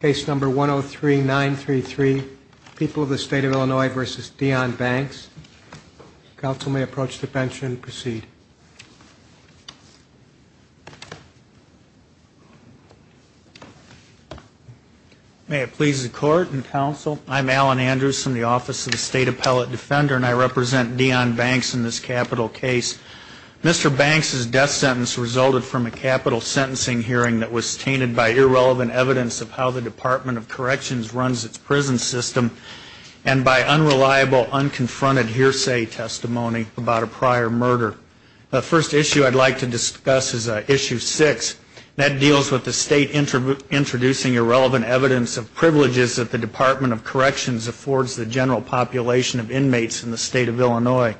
Case number 103933, People of the State of Illinois v. Deon Banks. Counsel may approach the bench and proceed. May it please the court and counsel, I'm Alan Andrews from the Office of the State Appellate Defender and I represent Deon Banks in this capital case. Mr. Banks' death sentence resulted from a capital sentencing hearing that was tainted by irrelevant evidence of how the Department of Corrections runs its prison system and by unreliable, unconfronted hearsay testimony about a prior murder. The first issue I'd like to discuss is Issue 6. That deals with the State introducing irrelevant evidence of privileges that the Department of Corrections affords the general population of inmates in the State of Illinois.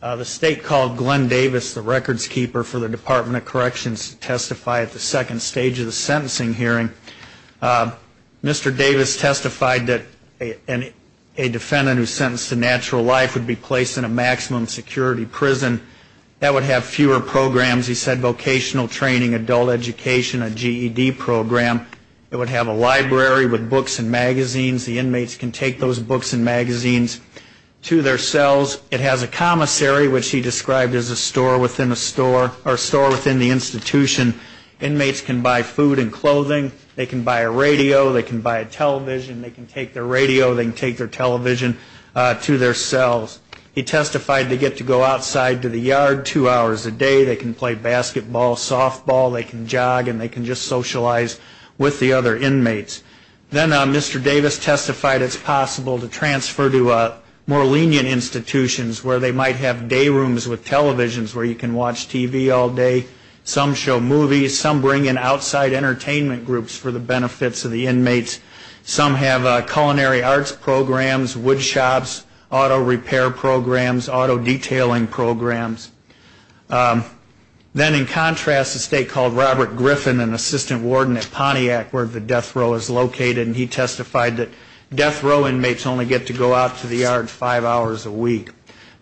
The State called Glenn Davis the records keeper for the Department of Corrections to testify at the second stage of the sentencing hearing. Mr. Davis testified that a defendant who is sentenced to natural life would be placed in a maximum security prison that would have fewer programs, he said, vocational training, adult education, a GED program. It would have a library with books and magazines. The inmates can take those books and magazines to their cells. It has a commissary, which he described as a store within the institution. Inmates can buy food and clothing. They can buy a radio. They can buy a television. They can take their radio. They can take their television to their cells. He testified they get to go outside to the yard two hours a day. They can play basketball, softball. They can jog and they can just socialize with the other inmates. Then Mr. Davis testified it's possible to transfer to more lenient institutions where they might have day rooms with televisions where you can watch TV all day. Some show movies. Some bring in outside entertainment groups for the benefits of the inmates. Some have culinary arts programs, woodshops, auto repair programs, auto detailing programs. Then in contrast, a state called Robert Griffin, an assistant warden at Pontiac where the death row is located, and he testified that death row inmates only get to go out to the yard five hours a week.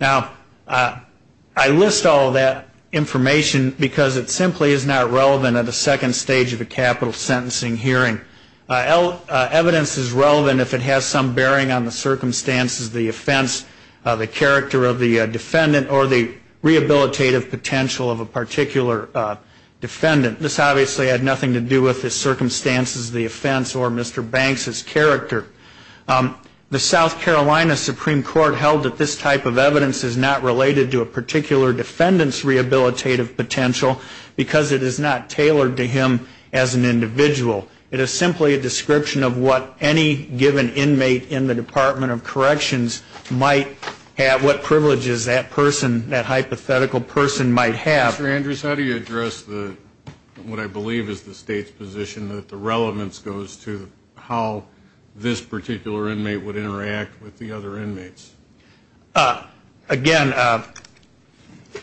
Now, I list all that information because it simply is not relevant at the second stage of a capital sentencing hearing. Evidence is relevant if it has some bearing on the circumstances, the offense, the character of the defendant or the rehabilitative potential of a particular defendant. This obviously had nothing to do with the circumstances of the offense or Mr. Banks' character. The South Carolina Supreme Court held that this type of evidence is not related to a particular defendant's rehabilitative potential because it is not tailored to him as an individual. It is simply a description of what any given inmate in the Department of Corrections might have, what privileges that person, that hypothetical person might have. Mr. Andrews, how do you address what I believe is the state's position that the relevance goes to how this particular inmate would interact with the other inmates? Again,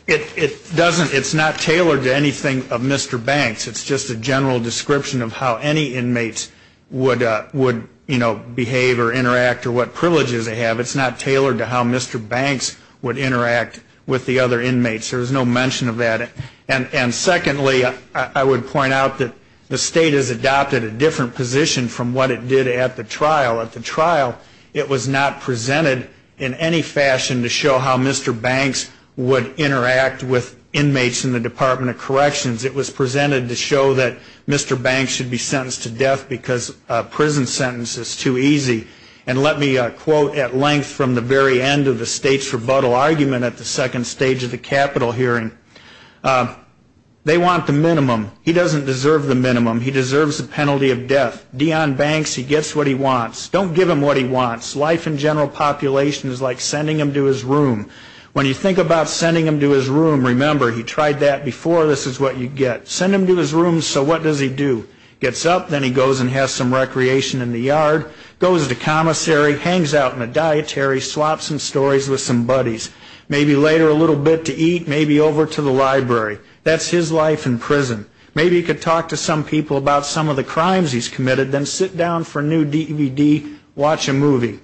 it doesn't, it's not tailored to anything of Mr. Banks. It's just a general description of how any inmates would, you know, behave or interact or what privileges they have. It's not tailored to how Mr. Banks would interact with the other inmates. There is no mention of that. And secondly, I would point out that the state has adopted a different position from what it did at the trial. At the trial, it was not presented in any fashion to show how Mr. Banks would interact with inmates in the Department of Corrections. It was presented to show that Mr. Banks should be sentenced to death because a prison sentence is too easy. And let me quote at length from the very end of the state's rebuttal argument at the second stage of the capital hearing. They want the minimum. He doesn't deserve the minimum. He deserves the penalty of death. Deon Banks, he gets what he wants. Don't give him what he wants. Life in general population is like sending him to his room. When you think about sending him to his room, remember, he tried that before, this is what you get. Send him to his room, so what does he do? Gets up, then he goes and has some recreation in the yard, goes to commissary, hangs out in a dietary, swaps some stories with some buddies. Maybe later a little bit to eat, maybe over to the library. That's his life in prison. Maybe he could talk to some people about some of the crimes he's committed, then sit down for a new DVD, watch a movie.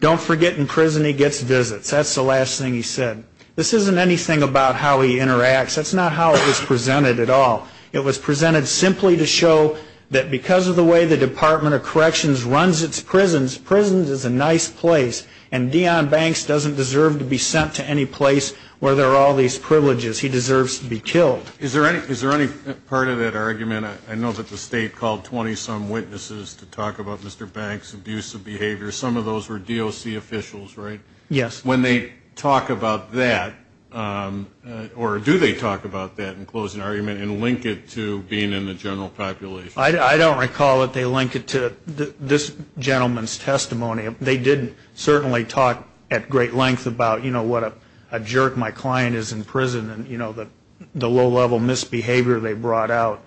Don't forget in prison he gets visits. That's the last thing he said. This isn't anything about how he interacts. That's not how it was presented at all. It was presented simply to show that because of the way the Department of Corrections runs its prisons, prisons is a nice place. And Deon Banks doesn't deserve to be sent to any place where there are all these privileges. He deserves to be killed. Is there any part of that argument, I know that the state called 20-some witnesses to talk about Mr. Banks' abusive behavior. Some of those were DOC officials, right? Yes. When they talk about that, or do they talk about that and close an argument and link it to being in the general population? I don't recall that they link it to this gentleman's testimony. They did certainly talk at great length about what a jerk my client is in prison and the low-level misbehavior they brought out,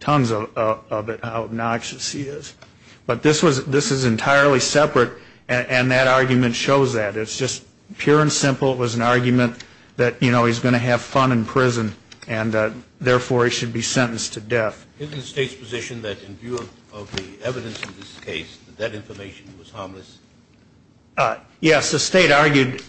tons of it, how obnoxious he is. But this is entirely separate, and that argument shows that. It's just pure and simple. It was an argument that, you know, he's going to have fun in prison, and therefore he should be sentenced to death. Isn't the state's position that in view of the evidence in this case, that that information was harmless? Yes, the state argued,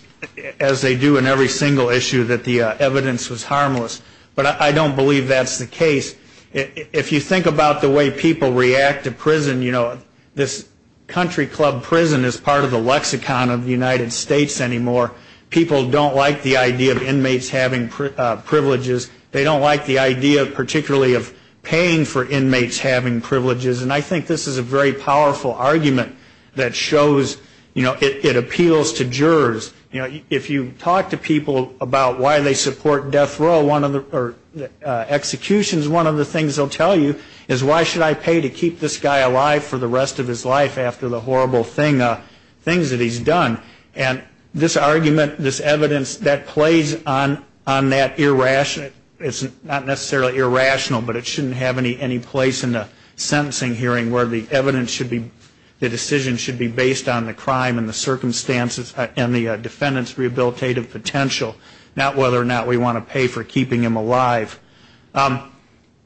as they do in every single issue, that the evidence was harmless. But I don't believe that's the case. If you think about the way people react to prison, you know, this country club prison is part of the lexicon of the United States anymore. People don't like the idea of inmates having privileges. They don't like the idea particularly of paying for inmates having privileges. And I think this is a very powerful argument that shows, you know, it appeals to jurors. You know, if you talk to people about why they support death row or executions, one of the things they'll tell you is, why should I pay to keep this guy alive for the rest of his life after the horrible things that he's done? And this argument, this evidence, that plays on that irrational, it's not necessarily irrational, but it shouldn't have any place in the sentencing hearing where the evidence should be, the decision should be based on the crime and the circumstances and the defendant's rehabilitative potential, not whether or not we want to pay for keeping him alive.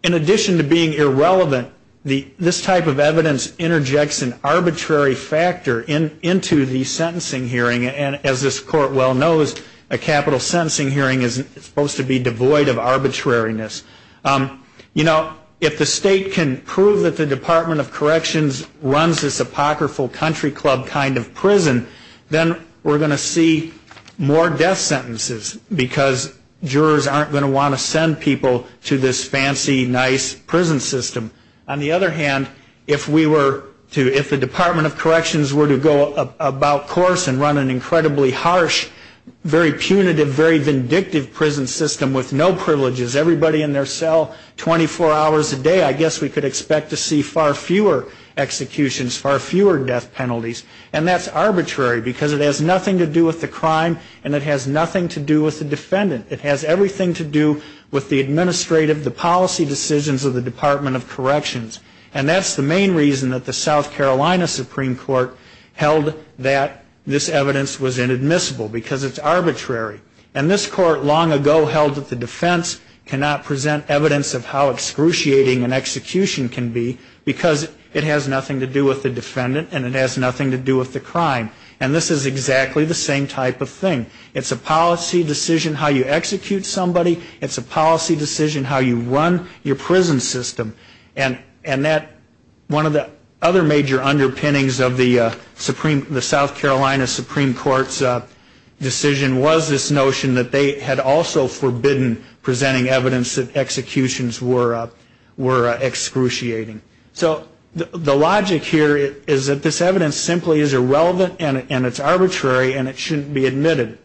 In addition to being irrelevant, this type of evidence interjects an arbitrary factor into the sentencing hearing, and as this Court well knows, a capital sentencing hearing is supposed to be devoid of arbitrariness. You know, if the state can prove that the Department of Corrections runs this apocryphal country club kind of prison, then we're going to see more death sentences, because jurors aren't going to want to send people to this fancy, nice prison system. On the other hand, if we were to, if the Department of Corrections were to go about course and run an incredibly harsh, very punitive, very vindictive prison system with no privileges, everybody in their cell 24 hours a day, I guess we could expect to see far fewer executions, far fewer death penalties, and that's arbitrary, because it has nothing to do with the crime, and it has nothing to do with the defendant. It has everything to do with the administrative, the policy decisions of the Department of Corrections, and that's the main reason that the South Carolina Supreme Court held that this evidence was inadmissible, because it's arbitrary. And this court long ago held that the defense cannot present evidence of how excruciating an execution can be, because it has nothing to do with the defendant, and it has nothing to do with the crime. And this is exactly the same type of thing. It's a policy decision how you execute somebody. It's a policy decision how you run your prison system. And one of the other major underpinnings of the South Carolina Supreme Court's decision was this notion that they had also forbidden presenting evidence that executions were excruciating. So the logic here is that this evidence simply is irrelevant, and it's arbitrary, and it shouldn't be admitted.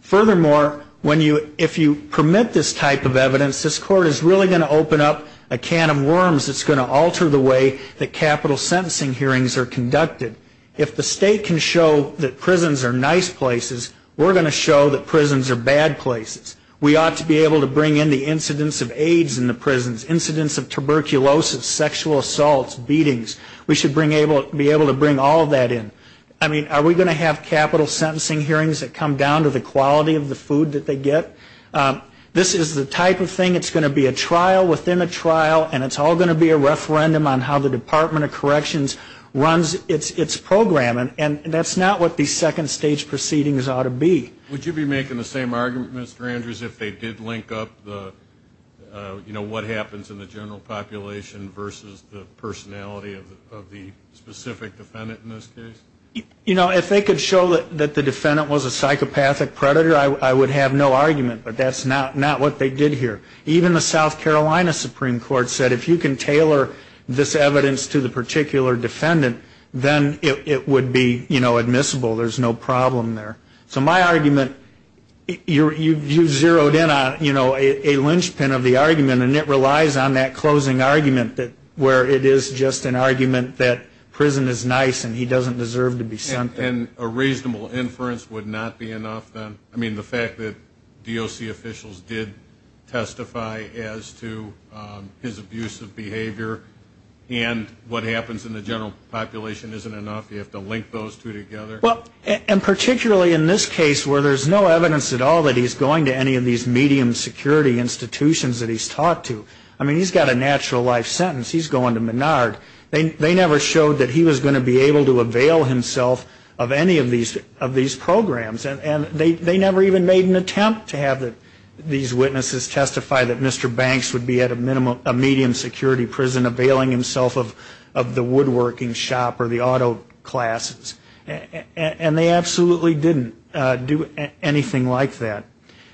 Furthermore, when you, if you permit this type of evidence, this court is really going to open up a can of worms that's going to alter the way that capital sentencing hearings are conducted. If the state can show that prisons are nice places, we're going to show that prisons are bad places. We ought to be able to bring in the incidents of AIDS in the prisons, incidents of tuberculosis, sexual assaults, beatings, we should be able to bring all of that in. I mean, are we going to have capital sentencing hearings that come down to the quality of the food that they get? This is the type of thing, it's going to be a trial within a trial, and it's all going to be a referendum on how the Department of Corrections runs its program. And that's not what the second stage proceedings ought to be. Would you be making the same argument, Mr. Andrews, if they did link up the, you know, what happens in the general population versus the personality of the specific defendant in this case? You know, if they could show that the defendant was a psychopathic predator, I would have no argument. But that's not what they did here. Even the South Carolina Supreme Court said if you can tailor this evidence to the particular defendant, then it would be, you know, admissible, there's no problem there. So my argument, you've zeroed in on, you know, a linchpin of the argument, and it relies on that closing argument where it is just an argument that prison is nice and he doesn't deserve to be sent there. And a reasonable inference would not be enough then? I mean, the fact that DOC officials did testify as to his abusive behavior and what happens in the general population isn't enough, you have to link those two together? Well, and particularly in this case where there's no evidence at all that he's going to any of these medium security institutions that he's talked to. I mean, he's got a natural life sentence, he's going to Menard. They never showed that he was going to be able to avail himself of any of these programs. And they never even made an attempt to have these witnesses testify that Mr. Banks would be at a medium security prison availing himself of the woodworking shop or the auto classes. And they absolutely didn't do anything like that.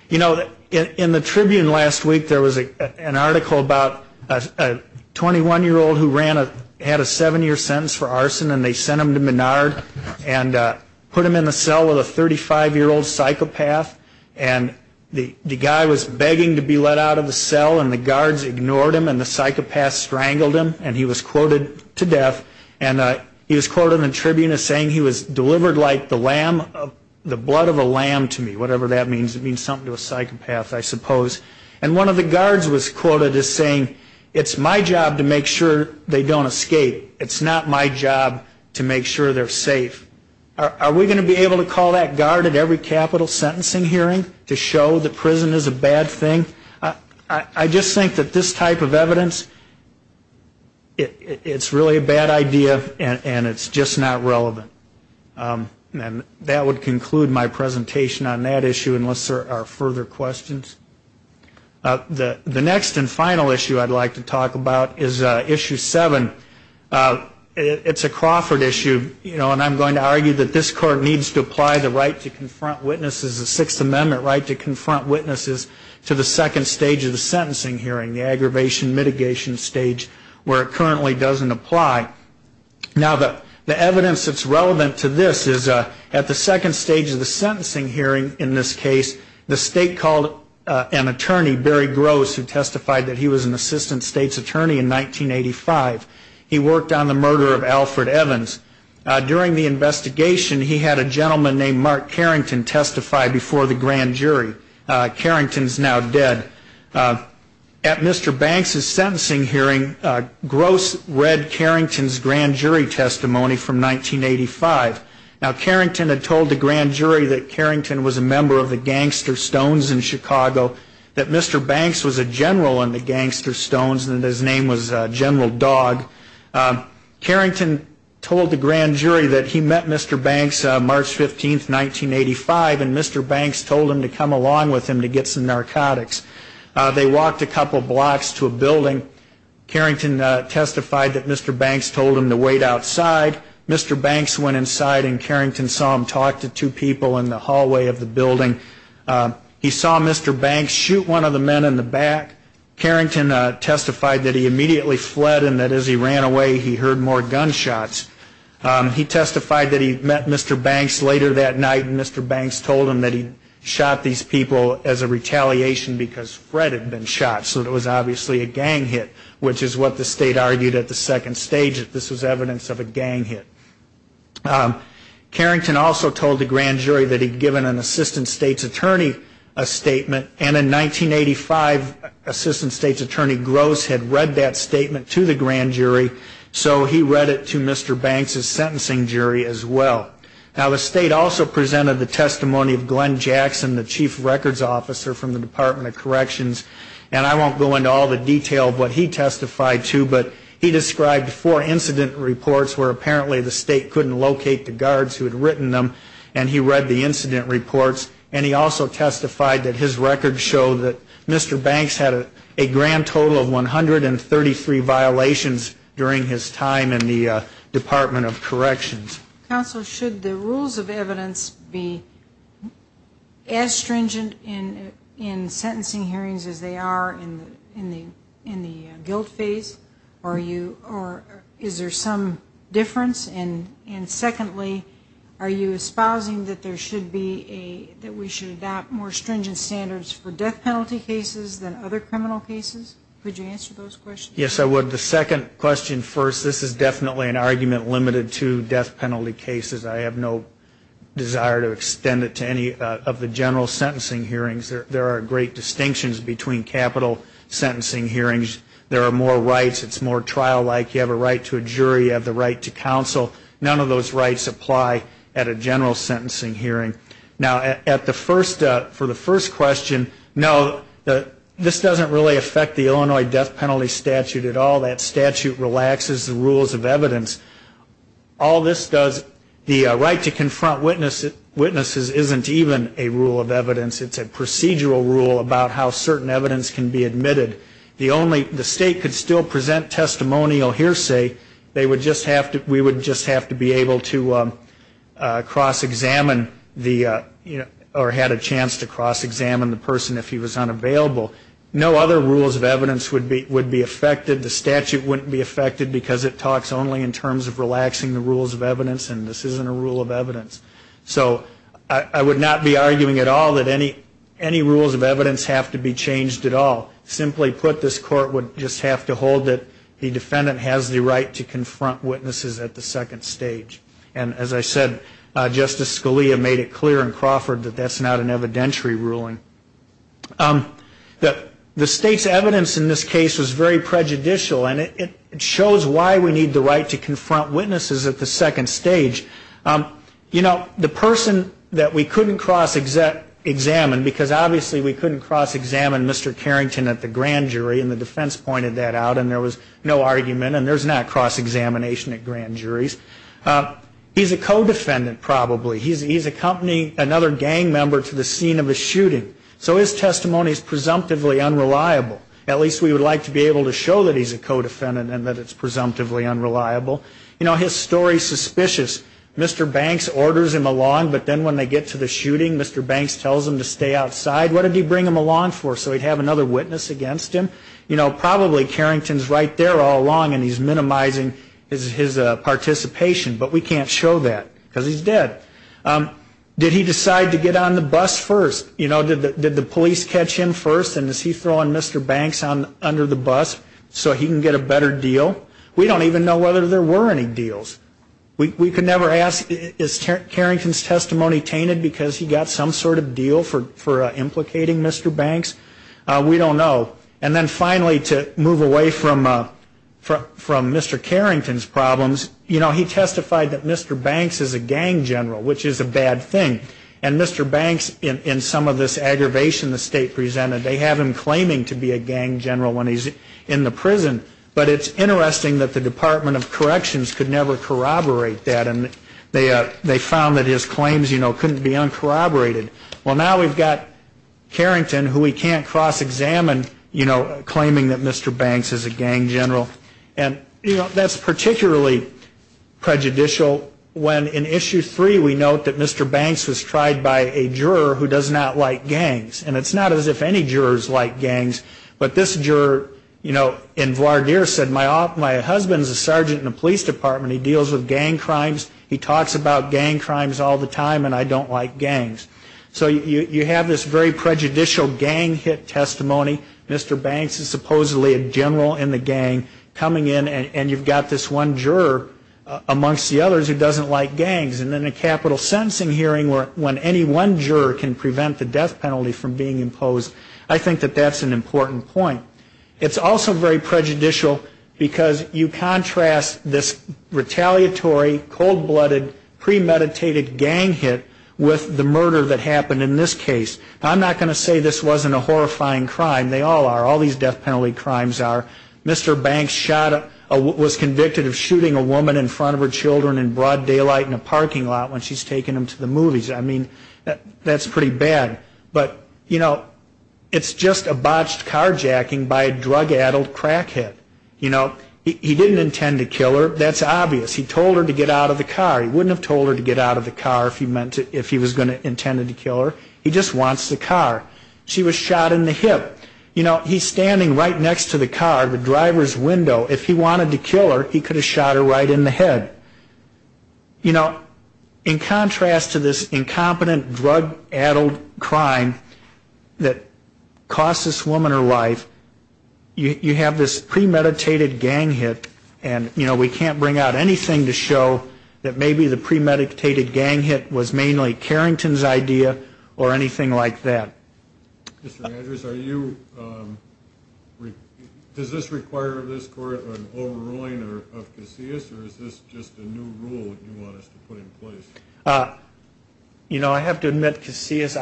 You know, in the Tribune last week there was an article about a 21-year-old who had a seven-year sentence for arson and they sent him to Menard and put him in the cell with a 35-year-old psychopath. And the guy was begging to be let out of the cell and the guards ignored him and the psychopath strangled him and he was quoted to death. And he was quoted in the Tribune as saying he was delivered like the blood of a lamb to me, whatever that means. It means something to a psychopath, I suppose. And one of the guards was quoted as saying, it's my job to make sure they don't escape. It's not my job to make sure they're safe. Are we going to be able to call that guard at every capital sentencing hearing to show that prison is a bad thing? I just think that this type of evidence, it's really a bad idea and it's just not relevant. And that would conclude my presentation on that issue unless there are further questions. The next and final issue I'd like to talk about is Issue 7. It's a Crawford issue, you know, and I'm going to argue that this Court needs to apply the right to confront witnesses, the Sixth Amendment right to confront witnesses to the second stage of the sentencing hearing, the aggravation mitigation stage where it currently doesn't apply. Now, the evidence that's relevant to this is at the second stage of the sentencing hearing in this case, the State called an attorney, Barry Gross, who testified that he was an Assistant State's Attorney in 1985. He worked on the murder of Alfred Evans. During the investigation, he had a gentleman named Mark Carrington testify before the grand jury. Carrington's now dead. At Mr. Banks's sentencing hearing, Gross read Carrington's grand jury testimony from 1985. Now, Carrington had told the grand jury that Carrington was a member of the Gangster Stones in Chicago, that Mr. Banks was a general in the Gangster Stones and that his name was General Dog. Carrington told the grand jury that he met Mr. Banks March 15, 1985, and Mr. Banks told him to come along with him to get some narcotics. They walked a couple blocks to a building. Carrington testified that Mr. Banks told him to wait outside. Mr. Banks went inside and Carrington saw him talk to two people in the hallway of the building. He saw Mr. Banks shoot one of the men in the back. Carrington testified that he immediately fled and that as he ran away, he heard more gunshots. He testified that he met Mr. Banks later that night, and Mr. Banks told him that he shot these people as a retaliation because Fred had been shot. So it was obviously a gang hit, which is what the state argued at the second stage, that this was evidence of a gang hit. Carrington also told the grand jury that he'd given an Assistant State's Attorney a statement, and in 1985, Assistant State's Attorney Gross had read that statement to the grand jury, so he read it to Mr. Banks's sentencing jury as well. Now, the state also presented the testimony of Glenn Jackson, the Chief Records Officer from the Department of Corrections, and I won't go into all the detail of what he testified to, but he described four incident reports where apparently the state couldn't locate the guards who had written them, and he read the incident reports, and he also testified that his records show that Mr. Banks had a grand total of 133 violations during his time in the Department of Corrections. Counsel, should the rules of evidence be as stringent in sentencing hearings as they are in the guilt phase, or is there some difference? And secondly, are you espousing that there should be a, that we should adopt more stringent standards for death penalty cases than other criminal cases? Could you answer those questions? Yes, I would. The second question first, this is definitely an argument limited to death penalty cases. I have no desire to extend it to any of the general sentencing hearings. There are great distinctions between capital sentencing hearings. There are more rights. It's more trial-like. You have a right to a jury. You have the right to counsel. None of those rights apply at a general sentencing hearing. Now, for the first question, no, this doesn't really affect the Illinois death penalty statute at all. That statute relaxes the rules of evidence. All this does, the right to confront witnesses isn't even a rule of evidence. It's a procedural rule about how certain evidence can be admitted. The state could still present testimonial hearsay. They would just have to, we would just have to be able to cross-examine the, or had a chance to cross-examine the person if he was unavailable. No other rules of evidence would be affected. The statute wouldn't be affected because it talks only in terms of relaxing the rules of evidence, and this isn't a rule of evidence. So I would not be arguing at all that any rules of evidence have to be changed at all. Simply put, this court would just have to hold that the defendant has the right to confront witnesses at the second stage. And as I said, Justice Scalia made it clear in Crawford that that's not an evidentiary ruling. The state's evidence in this case was very prejudicial, and it shows why we need the right to confront witnesses at the second stage. You know, the person that we couldn't cross-examine, because obviously we couldn't cross-examine Mr. Carrington at the grand jury, and the defense pointed that out, and there was no argument, and there's not cross-examination at grand juries. He's a co-defendant probably. He's accompanying another gang member to the scene of a shooting. So his testimony is presumptively unreliable. At least we would like to be able to show that he's a co-defendant and that it's presumptively unreliable. You know, his story's suspicious. Mr. Banks orders him along, but then when they get to the shooting, Mr. Banks tells him to stay outside. What did he bring him along for, so he'd have another witness against him? You know, probably Carrington's right there all along, and he's minimizing his participation. But we can't show that, because he's dead. Did he decide to get on the bus first? You know, did the police catch him first, and is he throwing Mr. Banks under the bus so he can get a better deal? We don't even know whether there were any deals. We could never ask, is Carrington's testimony tainted because he got some sort of deal for implicating Mr. Banks? We don't know. And then finally, to move away from Mr. Carrington's problems, you know, he testified that Mr. Banks is a gang general, which is a bad thing. And Mr. Banks, in some of this aggravation the state presented, they have him claiming to be a gang general when he's in the prison. But it's interesting that the Department of Corrections could never corroborate that, and they found that his claims, you know, couldn't be uncorroborated. Well, now we've got Carrington, who we can't cross-examine, you know, claiming that Mr. Banks is a gang general. And, you know, that's particularly prejudicial when, in Issue 3, we note that Mr. Banks was tried by a juror who does not like gangs. And it's not as if any jurors like gangs, but this juror, you know, in voir dire said, my husband's a sergeant in the police department. He deals with gang crimes. He talks about gang crimes all the time, and I don't like gangs. So you have this very prejudicial gang hit testimony. Mr. Banks is supposedly a general in the gang coming in, and you've got this one juror amongst the others who doesn't like gangs. And in a capital sentencing hearing when any one juror can prevent the death penalty from being imposed, I think that that's an important point. It's also very prejudicial because you contrast this retaliatory, cold-blooded, premeditated gang hit with the murder that happened in this case. I'm not going to say this wasn't a horrifying crime. They all are. All these death penalty crimes are. Mr. Banks was convicted of shooting a woman in front of her children in broad daylight in a parking lot when she's taking them to the movies. I mean, that's pretty bad. But, you know, it's just a botched carjacking by a drug-addled crackhead. You know, he didn't intend to kill her. That's obvious. He told her to get out of the car. He wouldn't have told her to get out of the car if he was going to intend to kill her. He just wants the car. She was shot in the hip. But, you know, he's standing right next to the car, the driver's window. If he wanted to kill her, he could have shot her right in the head. You know, in contrast to this incompetent, drug-addled crime that cost this woman her life, you have this premeditated gang hit, and, you know, we can't bring out anything to show that maybe the premeditated gang hit was mainly Carrington's idea or anything like that. Mr. Andrews, does this require this court an overruling of Casillas, or is this just a new rule that you want us to put in place? You know, I have to admit, Casillas,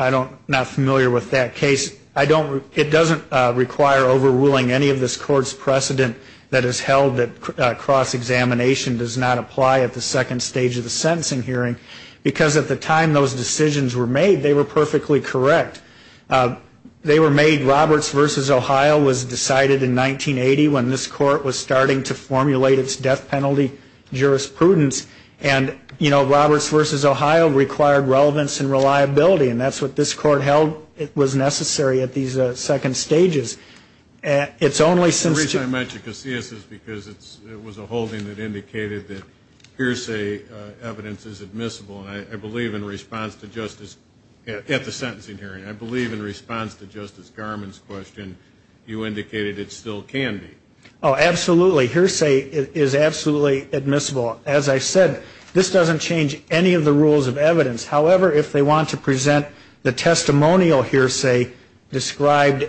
I'm not familiar with that case. It doesn't require overruling any of this court's precedent that has held that cross-examination does not apply at the second stage of the sentencing hearing, because at the time those decisions were made, they were perfectly correct. They were made, Roberts v. Ohio was decided in 1980 when this court was starting to formulate its death penalty jurisprudence, and, you know, Roberts v. Ohio required relevance and reliability, and that's what this court held was necessary at these second stages. It's only since... The reason I mention Casillas is because it was a holding that indicated that hearsay evidence is admissible, and I believe in response to Justice... At the sentencing hearing, I believe in response to Justice Garmon's question, you indicated it still can be. Oh, absolutely. Hearsay is absolutely admissible. As I said, this doesn't change any of the rules of evidence. However, if they want to present the testimonial hearsay described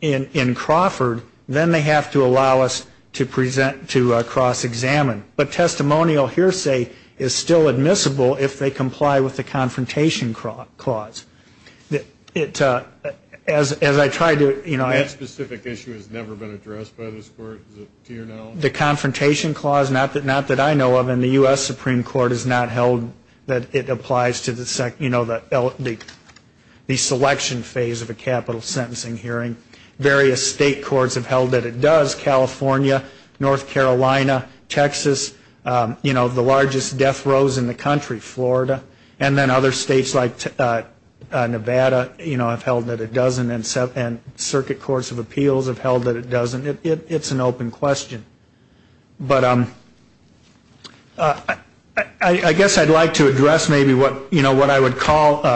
in Crawford, then they have to allow us to cross-examine. But testimonial hearsay is still admissible if they comply with the Confrontation Clause. As I tried to... That specific issue has never been addressed by this court, to your knowledge? The Confrontation Clause, not that I know of, and the U.S. Supreme Court has not held that it applies to the selection phase of a capital sentencing hearing. Various state courts have held that it does. California, North Carolina, Texas, you know, the largest death rows in the country, Florida, and then other states like Nevada, you know, have held that it doesn't, and circuit courts of appeals have held that it doesn't. It's an open question. But I guess I'd like to address maybe what, you know, what I would call...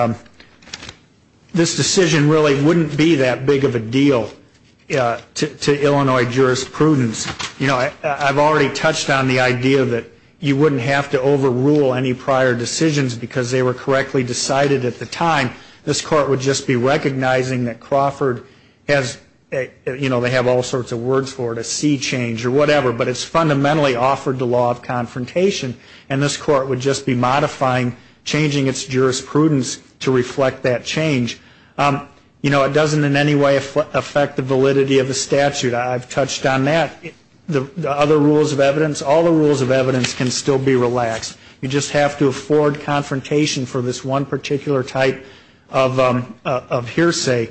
to Illinois jurisprudence. You know, I've already touched on the idea that you wouldn't have to overrule any prior decisions because they were correctly decided at the time. This court would just be recognizing that Crawford has, you know, they have all sorts of words for it, a sea change or whatever, but it's fundamentally offered the law of confrontation, and this court would just be modifying, changing its jurisprudence to reflect that change. You know, it doesn't in any way affect the validity of the statute. I've touched on that. The other rules of evidence, all the rules of evidence can still be relaxed. You just have to afford confrontation for this one particular type of hearsay.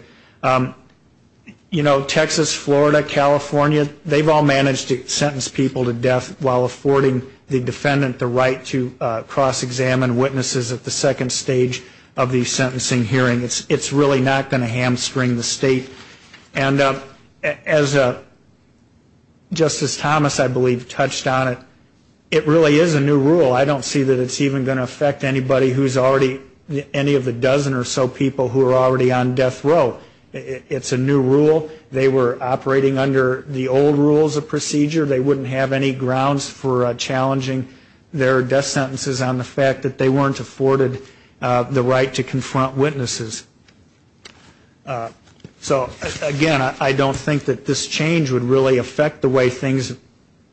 You know, Texas, Florida, California, they've all managed to sentence people to death while affording the defendant the right to cross-examine witnesses at the second stage of the sentencing hearing. It's really not going to hamstring the state. And as Justice Thomas, I believe, touched on it, it really is a new rule. I don't see that it's even going to affect anybody who's already any of the dozen or so people who are already on death row. It's a new rule. They were operating under the old rules of procedure. They wouldn't have any grounds for challenging their death sentences on the fact that they weren't afforded the right to confront witnesses. So, again, I don't think that this change would really affect the way things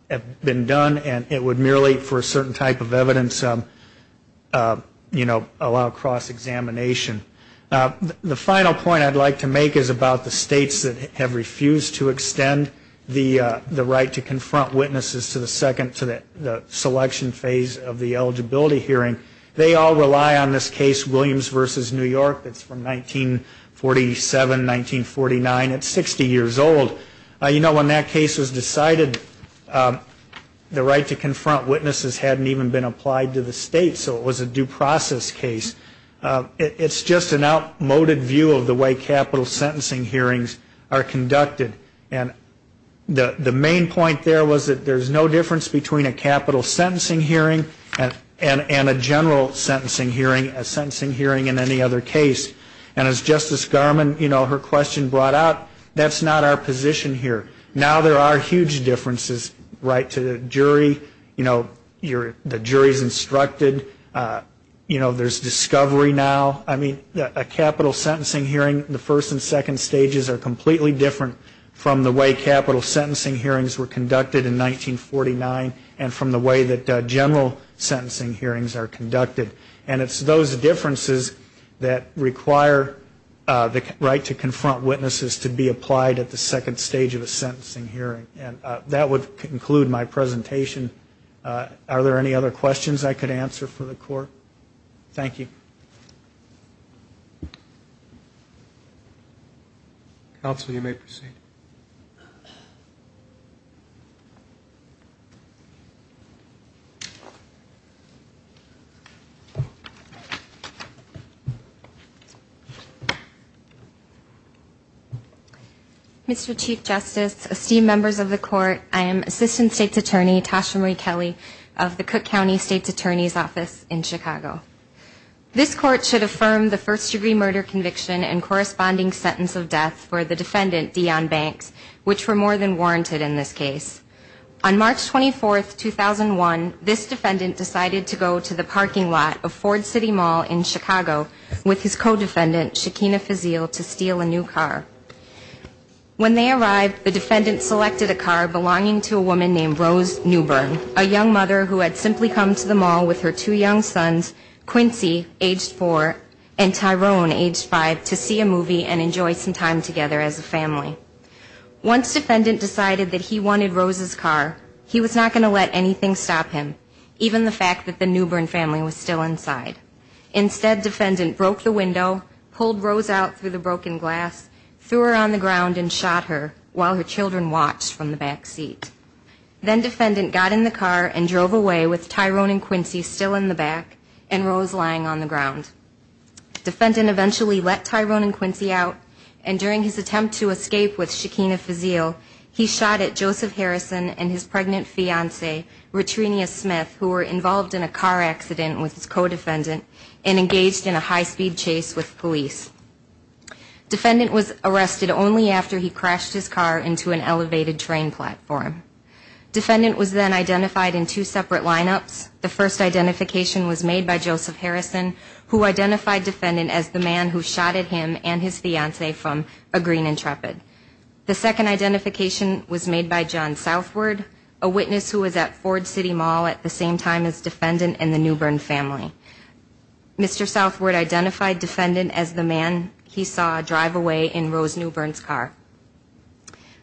have been done, and it would merely, for a certain type of evidence, you know, allow cross-examination. The final point I'd like to make is about the states that have refused to extend the right to confront witnesses to the selection phase of the eligibility hearing. They all rely on this case, Williams v. New York, that's from 1947, 1949. It's 60 years old. You know, when that case was decided, the right to confront witnesses hadn't even been applied to the state, so it was a due process case. It's just an outmoded view of the way capital sentencing hearings are conducted. And the main point there was that there's no difference between a capital sentencing hearing and a general sentencing hearing, a sentencing hearing in any other case. And as Justice Garmon, you know, her question brought out, that's not our position here. Now there are huge differences. Right to the jury, you know, the jury's instructed. You know, there's discovery now. I mean, a capital sentencing hearing, the first and second stages are completely different from the way capital sentencing hearings were conducted in 1949 and from the way that general sentencing hearings are conducted. And it's those differences that require the right to confront witnesses to be applied at the second stage of a sentencing hearing. And that would conclude my presentation. Are there any other questions I could answer for the Court? Thank you. Counsel, you may proceed. Mr. Chief Justice, esteemed members of the Court, I am Assistant State's Attorney Tasha Marie Kelly of the Cook County State's Attorney's Office in Chicago. This Court should affirm the first-degree murder conviction and corresponding sentence of death for the defendant, Deion Banks, which were more than warranted in this case. On March 24, 2001, this defendant decided to go to the parking lot of Ford City Mall in Chicago with his co-defendant, Shakina Fazil, to steal a new car. When they arrived, the defendant selected a car belonging to a woman named Rose Newbern, a young mother who had simply come to the mall with her two young sons, Quincy, aged four, and Tyrone, aged five, to see a movie and enjoy some time together as a family. Once defendant decided that he wanted Rose's car, he was not going to let anything stop him, even the fact that the Newbern family was still inside. Instead, defendant broke the window, pulled Rose out through the broken glass, threw her on the ground, and shot her while her children watched from the back seat. Then defendant got in the car and drove away with Tyrone and Quincy still in the back and Rose lying on the ground. Defendant eventually let Tyrone and Quincy out, and during his attempt to escape with Shakina Fazil, he shot at Joseph Harrison and his pregnant fiancé, Retrinia Smith, who were involved in a car accident with his co-defendant and engaged in a high-speed chase with police. Defendant was arrested only after he crashed his car into an elevated train platform. Defendant was then identified in two separate lineups. The first identification was made by Joseph Harrison, who identified defendant as the man who shot at him and his fiancé from a green Intrepid. The second identification was made by John Southward, a witness who was at Ford City Mall at the same time as defendant and the Newbern family. Mr. Southward identified defendant as the man he saw drive away in Rose Newbern's car.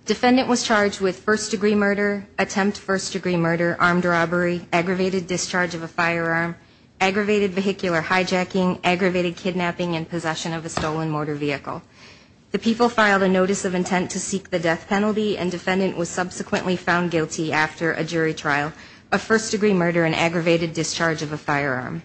Defendant was charged with first-degree murder, attempt first-degree murder, armed robbery, aggravated discharge of a firearm, aggravated vehicular hijacking, aggravated kidnapping and possession of a stolen motor vehicle. The people filed a notice of intent to seek the death penalty, and defendant was subsequently found guilty after a jury trial of first-degree murder under an aggravated discharge of a firearm.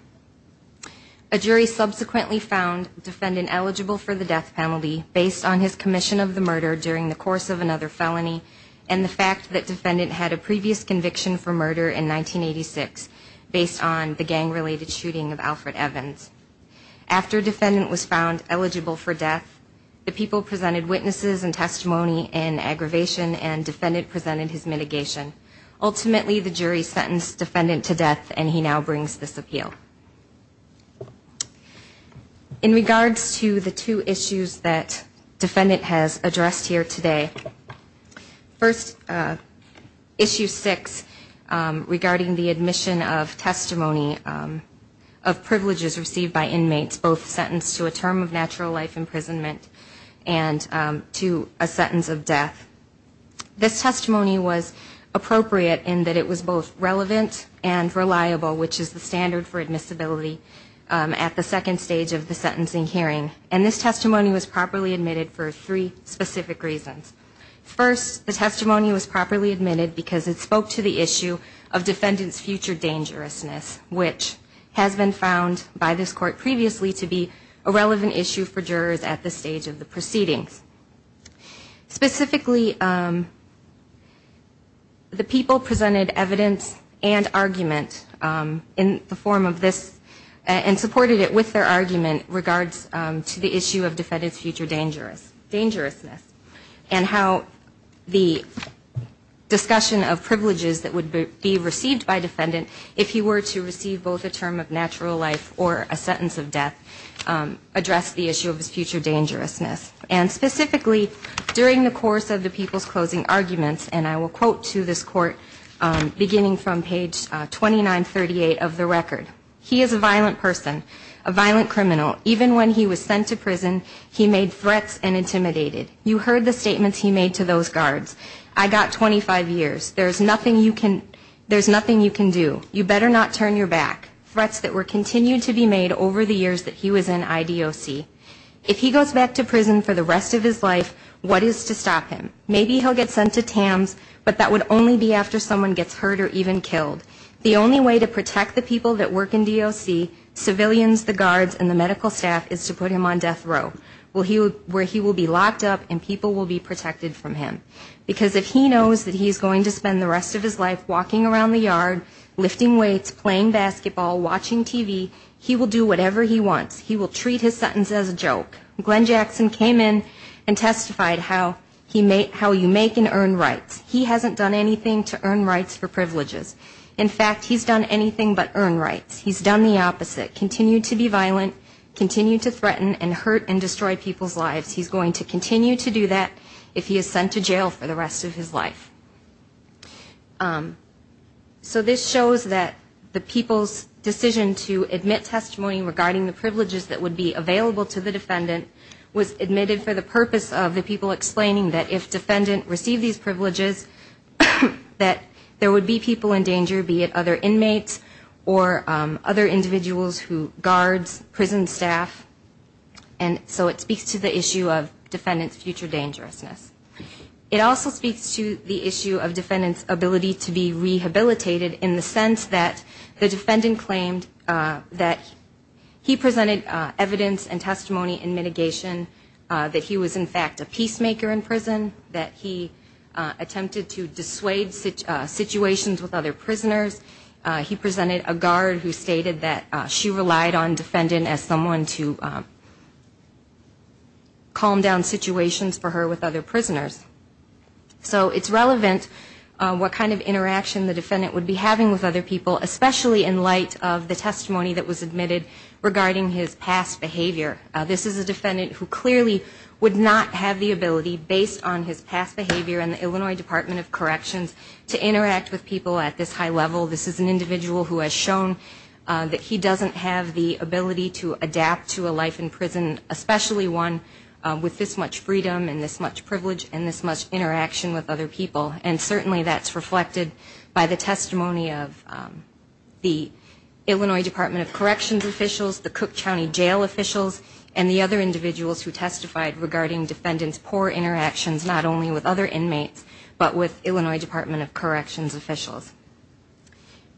A jury subsequently found defendant eligible for the death penalty based on his commission of the murder during the course of another felony and the fact that defendant had a previous conviction for murder in 1986 based on the gang-related shooting of Alfred Evans. After defendant was found eligible for death, the people presented witnesses and testimony in aggravation, and defendant presented his mitigation. Ultimately, the jury sentenced defendant to death, and he now brings this appeal. In regards to the two issues that defendant has addressed here today, first, Issue 6 regarding the admission of testimony of privileges received by inmates both sentenced to a term of natural life imprisonment and to a sentence of death. This testimony was appropriate in that it was both relevant and reliable, which is the standard for admissibility at the second stage of the sentencing hearing, and this testimony was properly admitted for three specific reasons. First, the testimony was properly admitted because it spoke to the issue of defendant's future dangerousness, which has been found by this court previously to be a relevant issue for jurors at this stage of the proceedings. Specifically, the people presented evidence and argument in the form of this and supported it with their argument in regards to the issue of defendant's future dangerousness and how the discussion of privileges that would be received by defendant if he were to receive both a term of natural life or a sentence of death addressed the issue of his future dangerousness. And specifically, during the course of the people's closing arguments, and I will quote to this court beginning from page 2938 of the record, he is a violent person, a violent criminal. Even when he was sent to prison, he made threats and intimidated. You heard the statements he made to those guards. I got 25 years. There's nothing you can do. You better not turn your back. Threats that were continued to be made over the years that he was in IDOC. If he goes back to prison for the rest of his life, what is to stop him? Maybe he'll get sent to TAMS, but that would only be after someone gets hurt or even killed. The only way to protect the people that work in DOC, civilians, the guards, and the medical staff is to put him on death row, where he will be locked up and people will be protected from him. Because if he knows that he's going to spend the rest of his life walking around the yard, lifting weights, playing basketball, watching TV, he will do whatever he wants. He will treat his sentence as a joke. Glenn Jackson came in and testified how you make and earn rights. He hasn't done anything to earn rights for privileges. In fact, he's done anything but earn rights. He's done the opposite, continued to be violent, continued to threaten and hurt and destroy people's lives. He's going to continue to do that if he is sent to jail for the rest of his life. So this shows that the people's decision to admit testimony regarding the privileges that would be available to the defendant was admitted for the purpose of the people explaining that if defendant received these privileges, that there would be people in danger, be it other inmates or other individuals who guards, prison staff. And so it speaks to the issue of defendant's future dangerousness. It also speaks to the issue of defendant's ability to be rehabilitated in the sense that the defendant claimed that he presented evidence and testimony in mitigation, that he was in fact a peacemaker in prison, that he attempted to dissuade situations with other prisoners. He presented a guard who stated that she relied on defendant as someone to calm down situations for her with other prisoners. So it's relevant what kind of interaction the defendant would be having with other people, especially in light of the testimony that was admitted regarding his past behavior. This is a defendant who clearly would not have the ability, based on his past behavior in the Illinois Department of Corrections, to interact with people at this high level. This is an individual who has shown that he doesn't have the ability to adapt to a life in prison, especially one with this much freedom and this much privilege and this much interaction with other people. And certainly that's reflected by the testimony of the Illinois Department of Corrections officials, the Cook County jail officials, and the other individuals who testified regarding defendant's poor interactions, not only with other inmates but with Illinois Department of Corrections officials.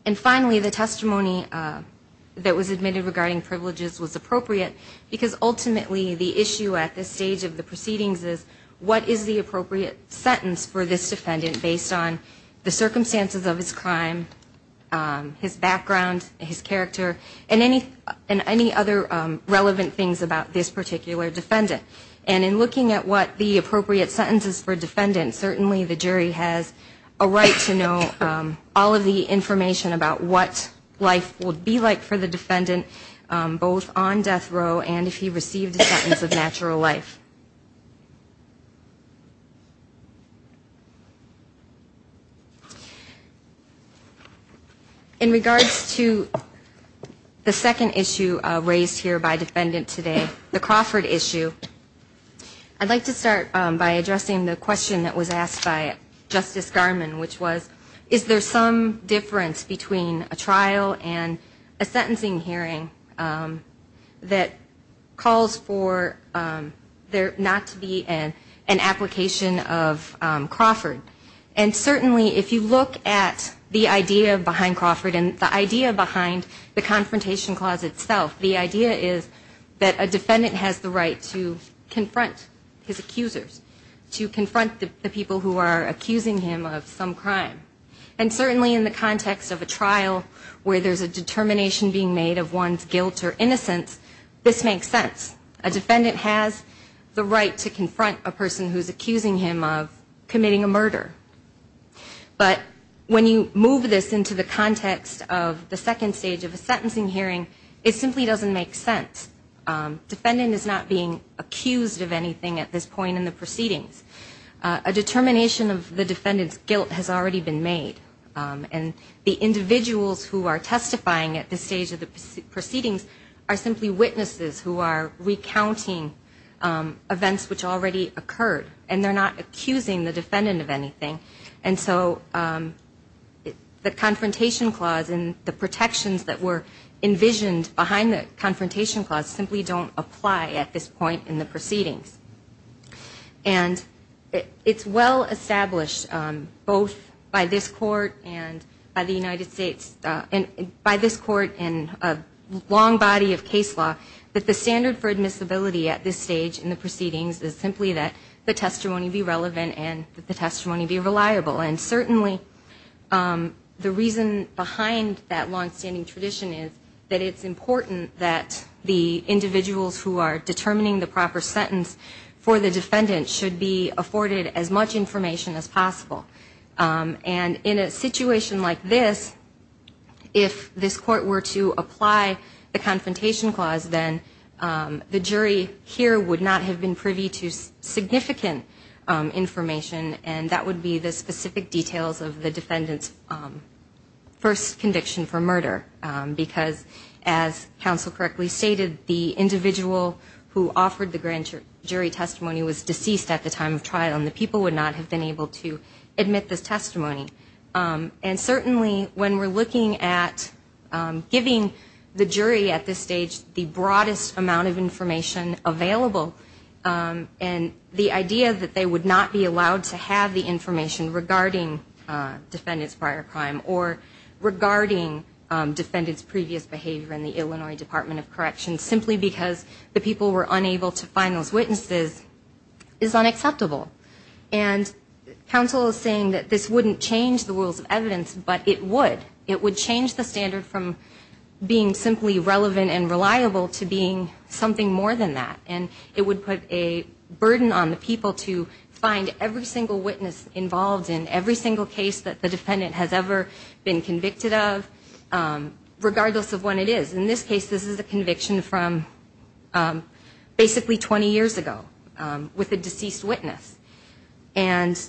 And finally, the testimony that was admitted regarding privileges was appropriate because ultimately the issue at this stage of the proceedings is what is the appropriate sentence for this defendant based on the circumstances of his crime, his background, his character, and any other relevant things about this particular defendant. And in looking at what the appropriate sentence is for defendant, certainly the jury has a right to know all of the information about what life would be like for the defendant, both on death row and if he received a sentence of natural life. In regards to the second issue raised here by defendant today, the Crawford issue, I'd like to start by addressing the question that was asked by Justice Garmon, which was is there some difference between a trial and a sentencing hearing that calls for there not to be an application of Crawford. And certainly if you look at the idea behind Crawford and the idea behind the Confrontation Clause itself, the idea is that a defendant has the right to confront his accusers, to confront the people who are accusing him of some crime. And certainly in the context of a trial where there's a determination being made of one's guilt or innocence, this makes sense. A defendant has the right to confront a person who's accusing him of committing a murder. But when you move this into the context of the second stage of a sentencing hearing, it simply doesn't make sense. A defendant is not being accused of anything at this point in the proceedings. A determination of the defendant's guilt has already been made. And the individuals who are testifying at this stage of the proceedings are simply witnesses who are recounting events which already occurred, and they're not accusing the defendant of anything. And so the Confrontation Clause and the protections that were envisioned behind the Confrontation Clause simply don't apply at this point in the proceedings. And it's well established both by this Court and by the United States, by this Court and a long body of case law, that the standard for admissibility at this stage in the proceedings is simply that the testimony be relevant and that the testimony be reliable. And certainly the reason behind that longstanding tradition is that it's important that the individuals who are determining the proper sentence for the defendant should be afforded as much information as possible. And in a situation like this, if this Court were to apply the Confrontation Clause, then the jury here would not have been privy to significant information, and that would be the specific details of the defendant's first conviction for murder, because as counsel correctly stated, the individual who offered the grand jury testimony was deceased at the time of trial, and the people would not have been able to admit this testimony. And certainly when we're looking at giving the jury at this stage the broadest amount of information available, and the idea that they would not be allowed to have the information regarding defendant's prior crime or regarding defendant's previous behavior in the Illinois Department of Corrections simply because the people were unable to find those witnesses is unacceptable. And counsel is saying that this wouldn't change the rules of evidence, but it would. It would change the standard from being simply relevant and reliable to being something more than that. And it would put a burden on the people to find every single witness involved in every single case that the defendant has ever been convicted of, regardless of when it is. In this case, this is a conviction from basically 20 years ago with a deceased witness. And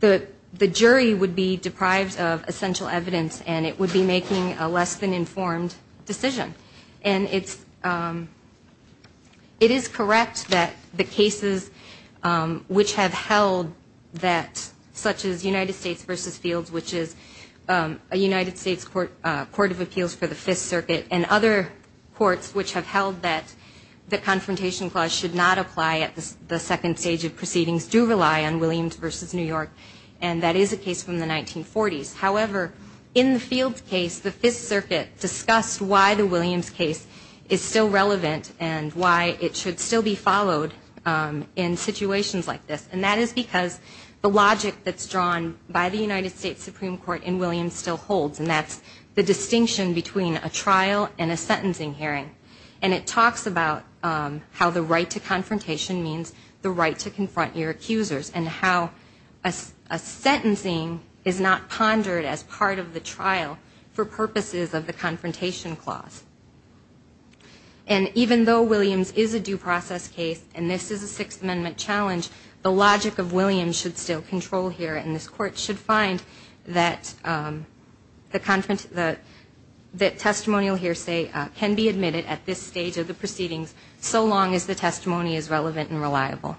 the jury would be deprived of essential evidence, and it would be making a less than informed decision. And it is correct that the cases which have held that, such as United States v. Fields, which is a United States Court of Appeals for the Fifth Circuit, and other courts which have held that the Confrontation Clause should not apply at the second stage of proceedings do rely on Williams v. New York, and that is a case from the 1940s. However, in the Fields case, the Fifth Circuit discussed why the Williams case is still relevant and why it should still be followed in situations like this. And that is because the logic that's drawn by the United States Supreme Court in Williams still holds, and that's the distinction between a trial and a sentencing hearing. And it talks about how the right to confrontation means the right to confront your accusers and how a sentencing is not pondered as part of the trial for purposes of the Confrontation Clause. And even though Williams is a due process case, and this is a Sixth Amendment challenge, the logic of Williams should still control here, and this Court should find that testimonial hearsay can be admitted at this stage of the proceedings so long as the testimony is relevant and reliable.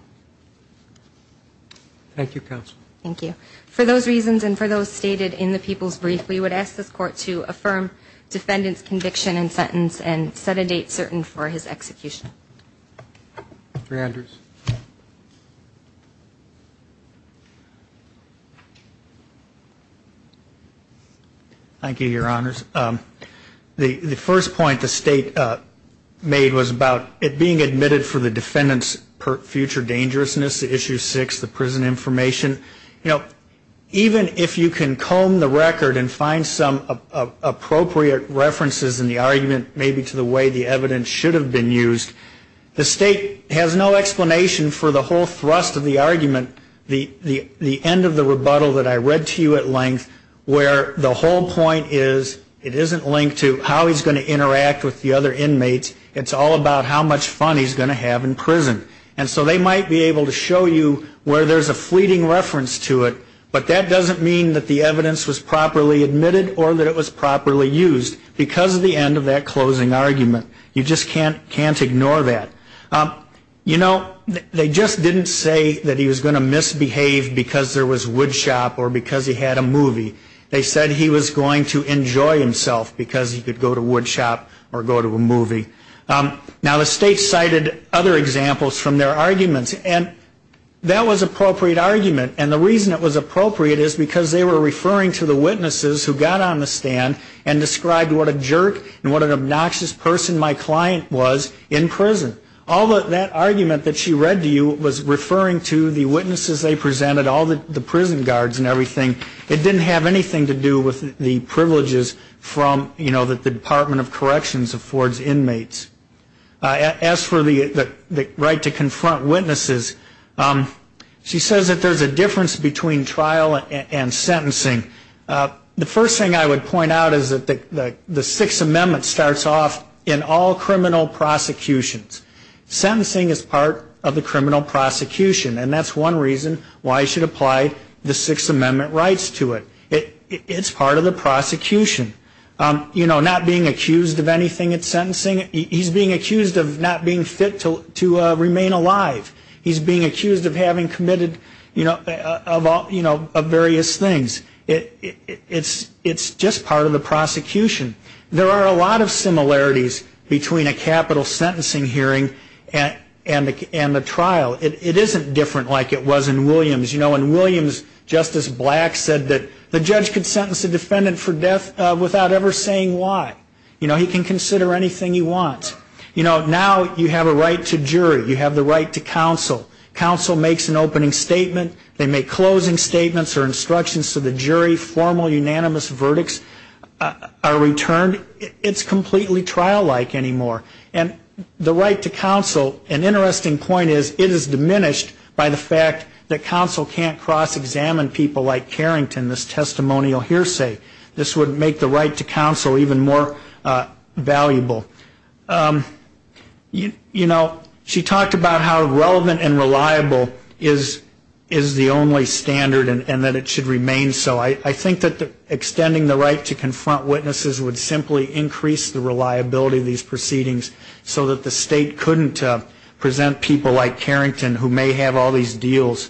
Thank you, Counsel. Thank you. For those reasons and for those stated in the People's Brief, we would ask this Court to affirm defendant's conviction and sentence and set a date certain for his execution. Mr. Andrews. Thank you, Your Honors. The first point the State made was about it being admitted for the defendant's future dangerousness, Issue 6, the prison information. You know, even if you can comb the record and find some appropriate references in the argument, maybe to the way the evidence should have been used, the State has no explanation for the whole thrust of the argument, the end of the rebuttal that I read to you at length, where the whole point is, it isn't linked to how he's going to interact with the other inmates, it's all about how much fun he's going to have in prison. And so they might be able to show you where there's a fleeting reference to it, but that doesn't mean that the evidence was properly admitted or that it was properly used, because of the end of that closing argument. You just can't ignore that. You know, they just didn't say that he was going to misbehave because there was woodshop or because he had a movie. They said he was going to enjoy himself because he could go to woodshop or go to a movie. Now, the State cited other examples from their arguments, and that was an appropriate argument. And the reason it was appropriate is because they were referring to the witnesses who got on the stand and described what a jerk and what an obnoxious person my client was in prison. All that argument that she read to you was referring to the witnesses they presented, all the prison guards and everything. It didn't have anything to do with the privileges from, you know, that the Department of Corrections affords inmates. As for the right to confront witnesses, she says that there's a difference between trial and sentencing. The first thing I would point out is that the Sixth Amendment starts off in all criminal prosecutions. Sentencing is part of the criminal prosecution, and that's one reason why you should apply the Sixth Amendment rights to it. It's part of the prosecution. You know, not being accused of anything at sentencing, he's being accused of not being fit to remain alive. He's being accused of having committed, you know, of various things. It's just part of the prosecution. There are a lot of similarities between a capital sentencing hearing and the trial. It isn't different like it was in Williams. You know, in Williams, Justice Black said that the judge could sentence a defendant for death without ever saying why. You know, he can consider anything he wants. You know, now you have a right to jury. You have the right to counsel. Counsel makes an opening statement. They make closing statements or instructions to the jury. Formal unanimous verdicts are returned. It's completely trial-like anymore. And the right to counsel, an interesting point is, it is diminished by the fact that counsel can't cross-examine people like Carrington, this testimonial hearsay. This would make the right to counsel even more valuable. You know, she talked about how relevant and reliable is the only standard and that it should remain so. I think that extending the right to confront witnesses would simply increase the reliability of these proceedings so that the state couldn't present people like Carrington who may have all these deals.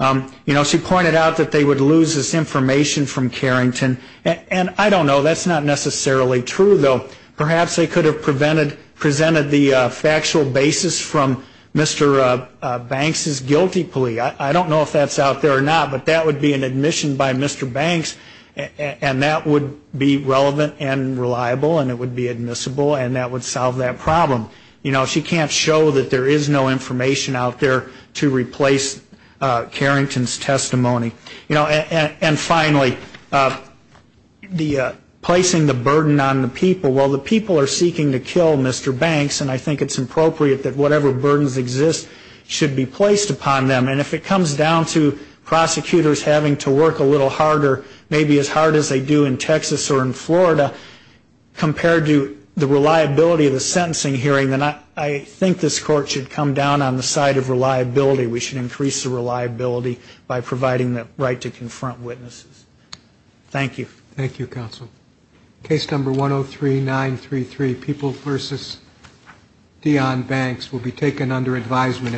You know, she pointed out that they would lose this information from Carrington. And I don't know, that's not necessarily true, though. Perhaps they could have presented the factual basis from Mr. Banks' guilty plea. I don't know if that's out there or not, but that would be an admission by Mr. Banks, and that would be relevant and reliable and it would be admissible and that would solve that problem. You know, she can't show that there is no information out there to replace Carrington's testimony. You know, and finally, placing the burden on the people. Well, the people are seeking to kill Mr. Banks, and I think it's appropriate that whatever burdens exist should be placed upon them. And if it comes down to prosecutors having to work a little harder, maybe as hard as they do in Texas or in Florida, compared to the reliability of the sentencing hearing, then I think this Court should come down on the side of reliability. We should increase the reliability by providing the right to confront witnesses. Thank you. Thank you, counsel. Case number 103-933, People v. Deon Banks, will be taken under advisement.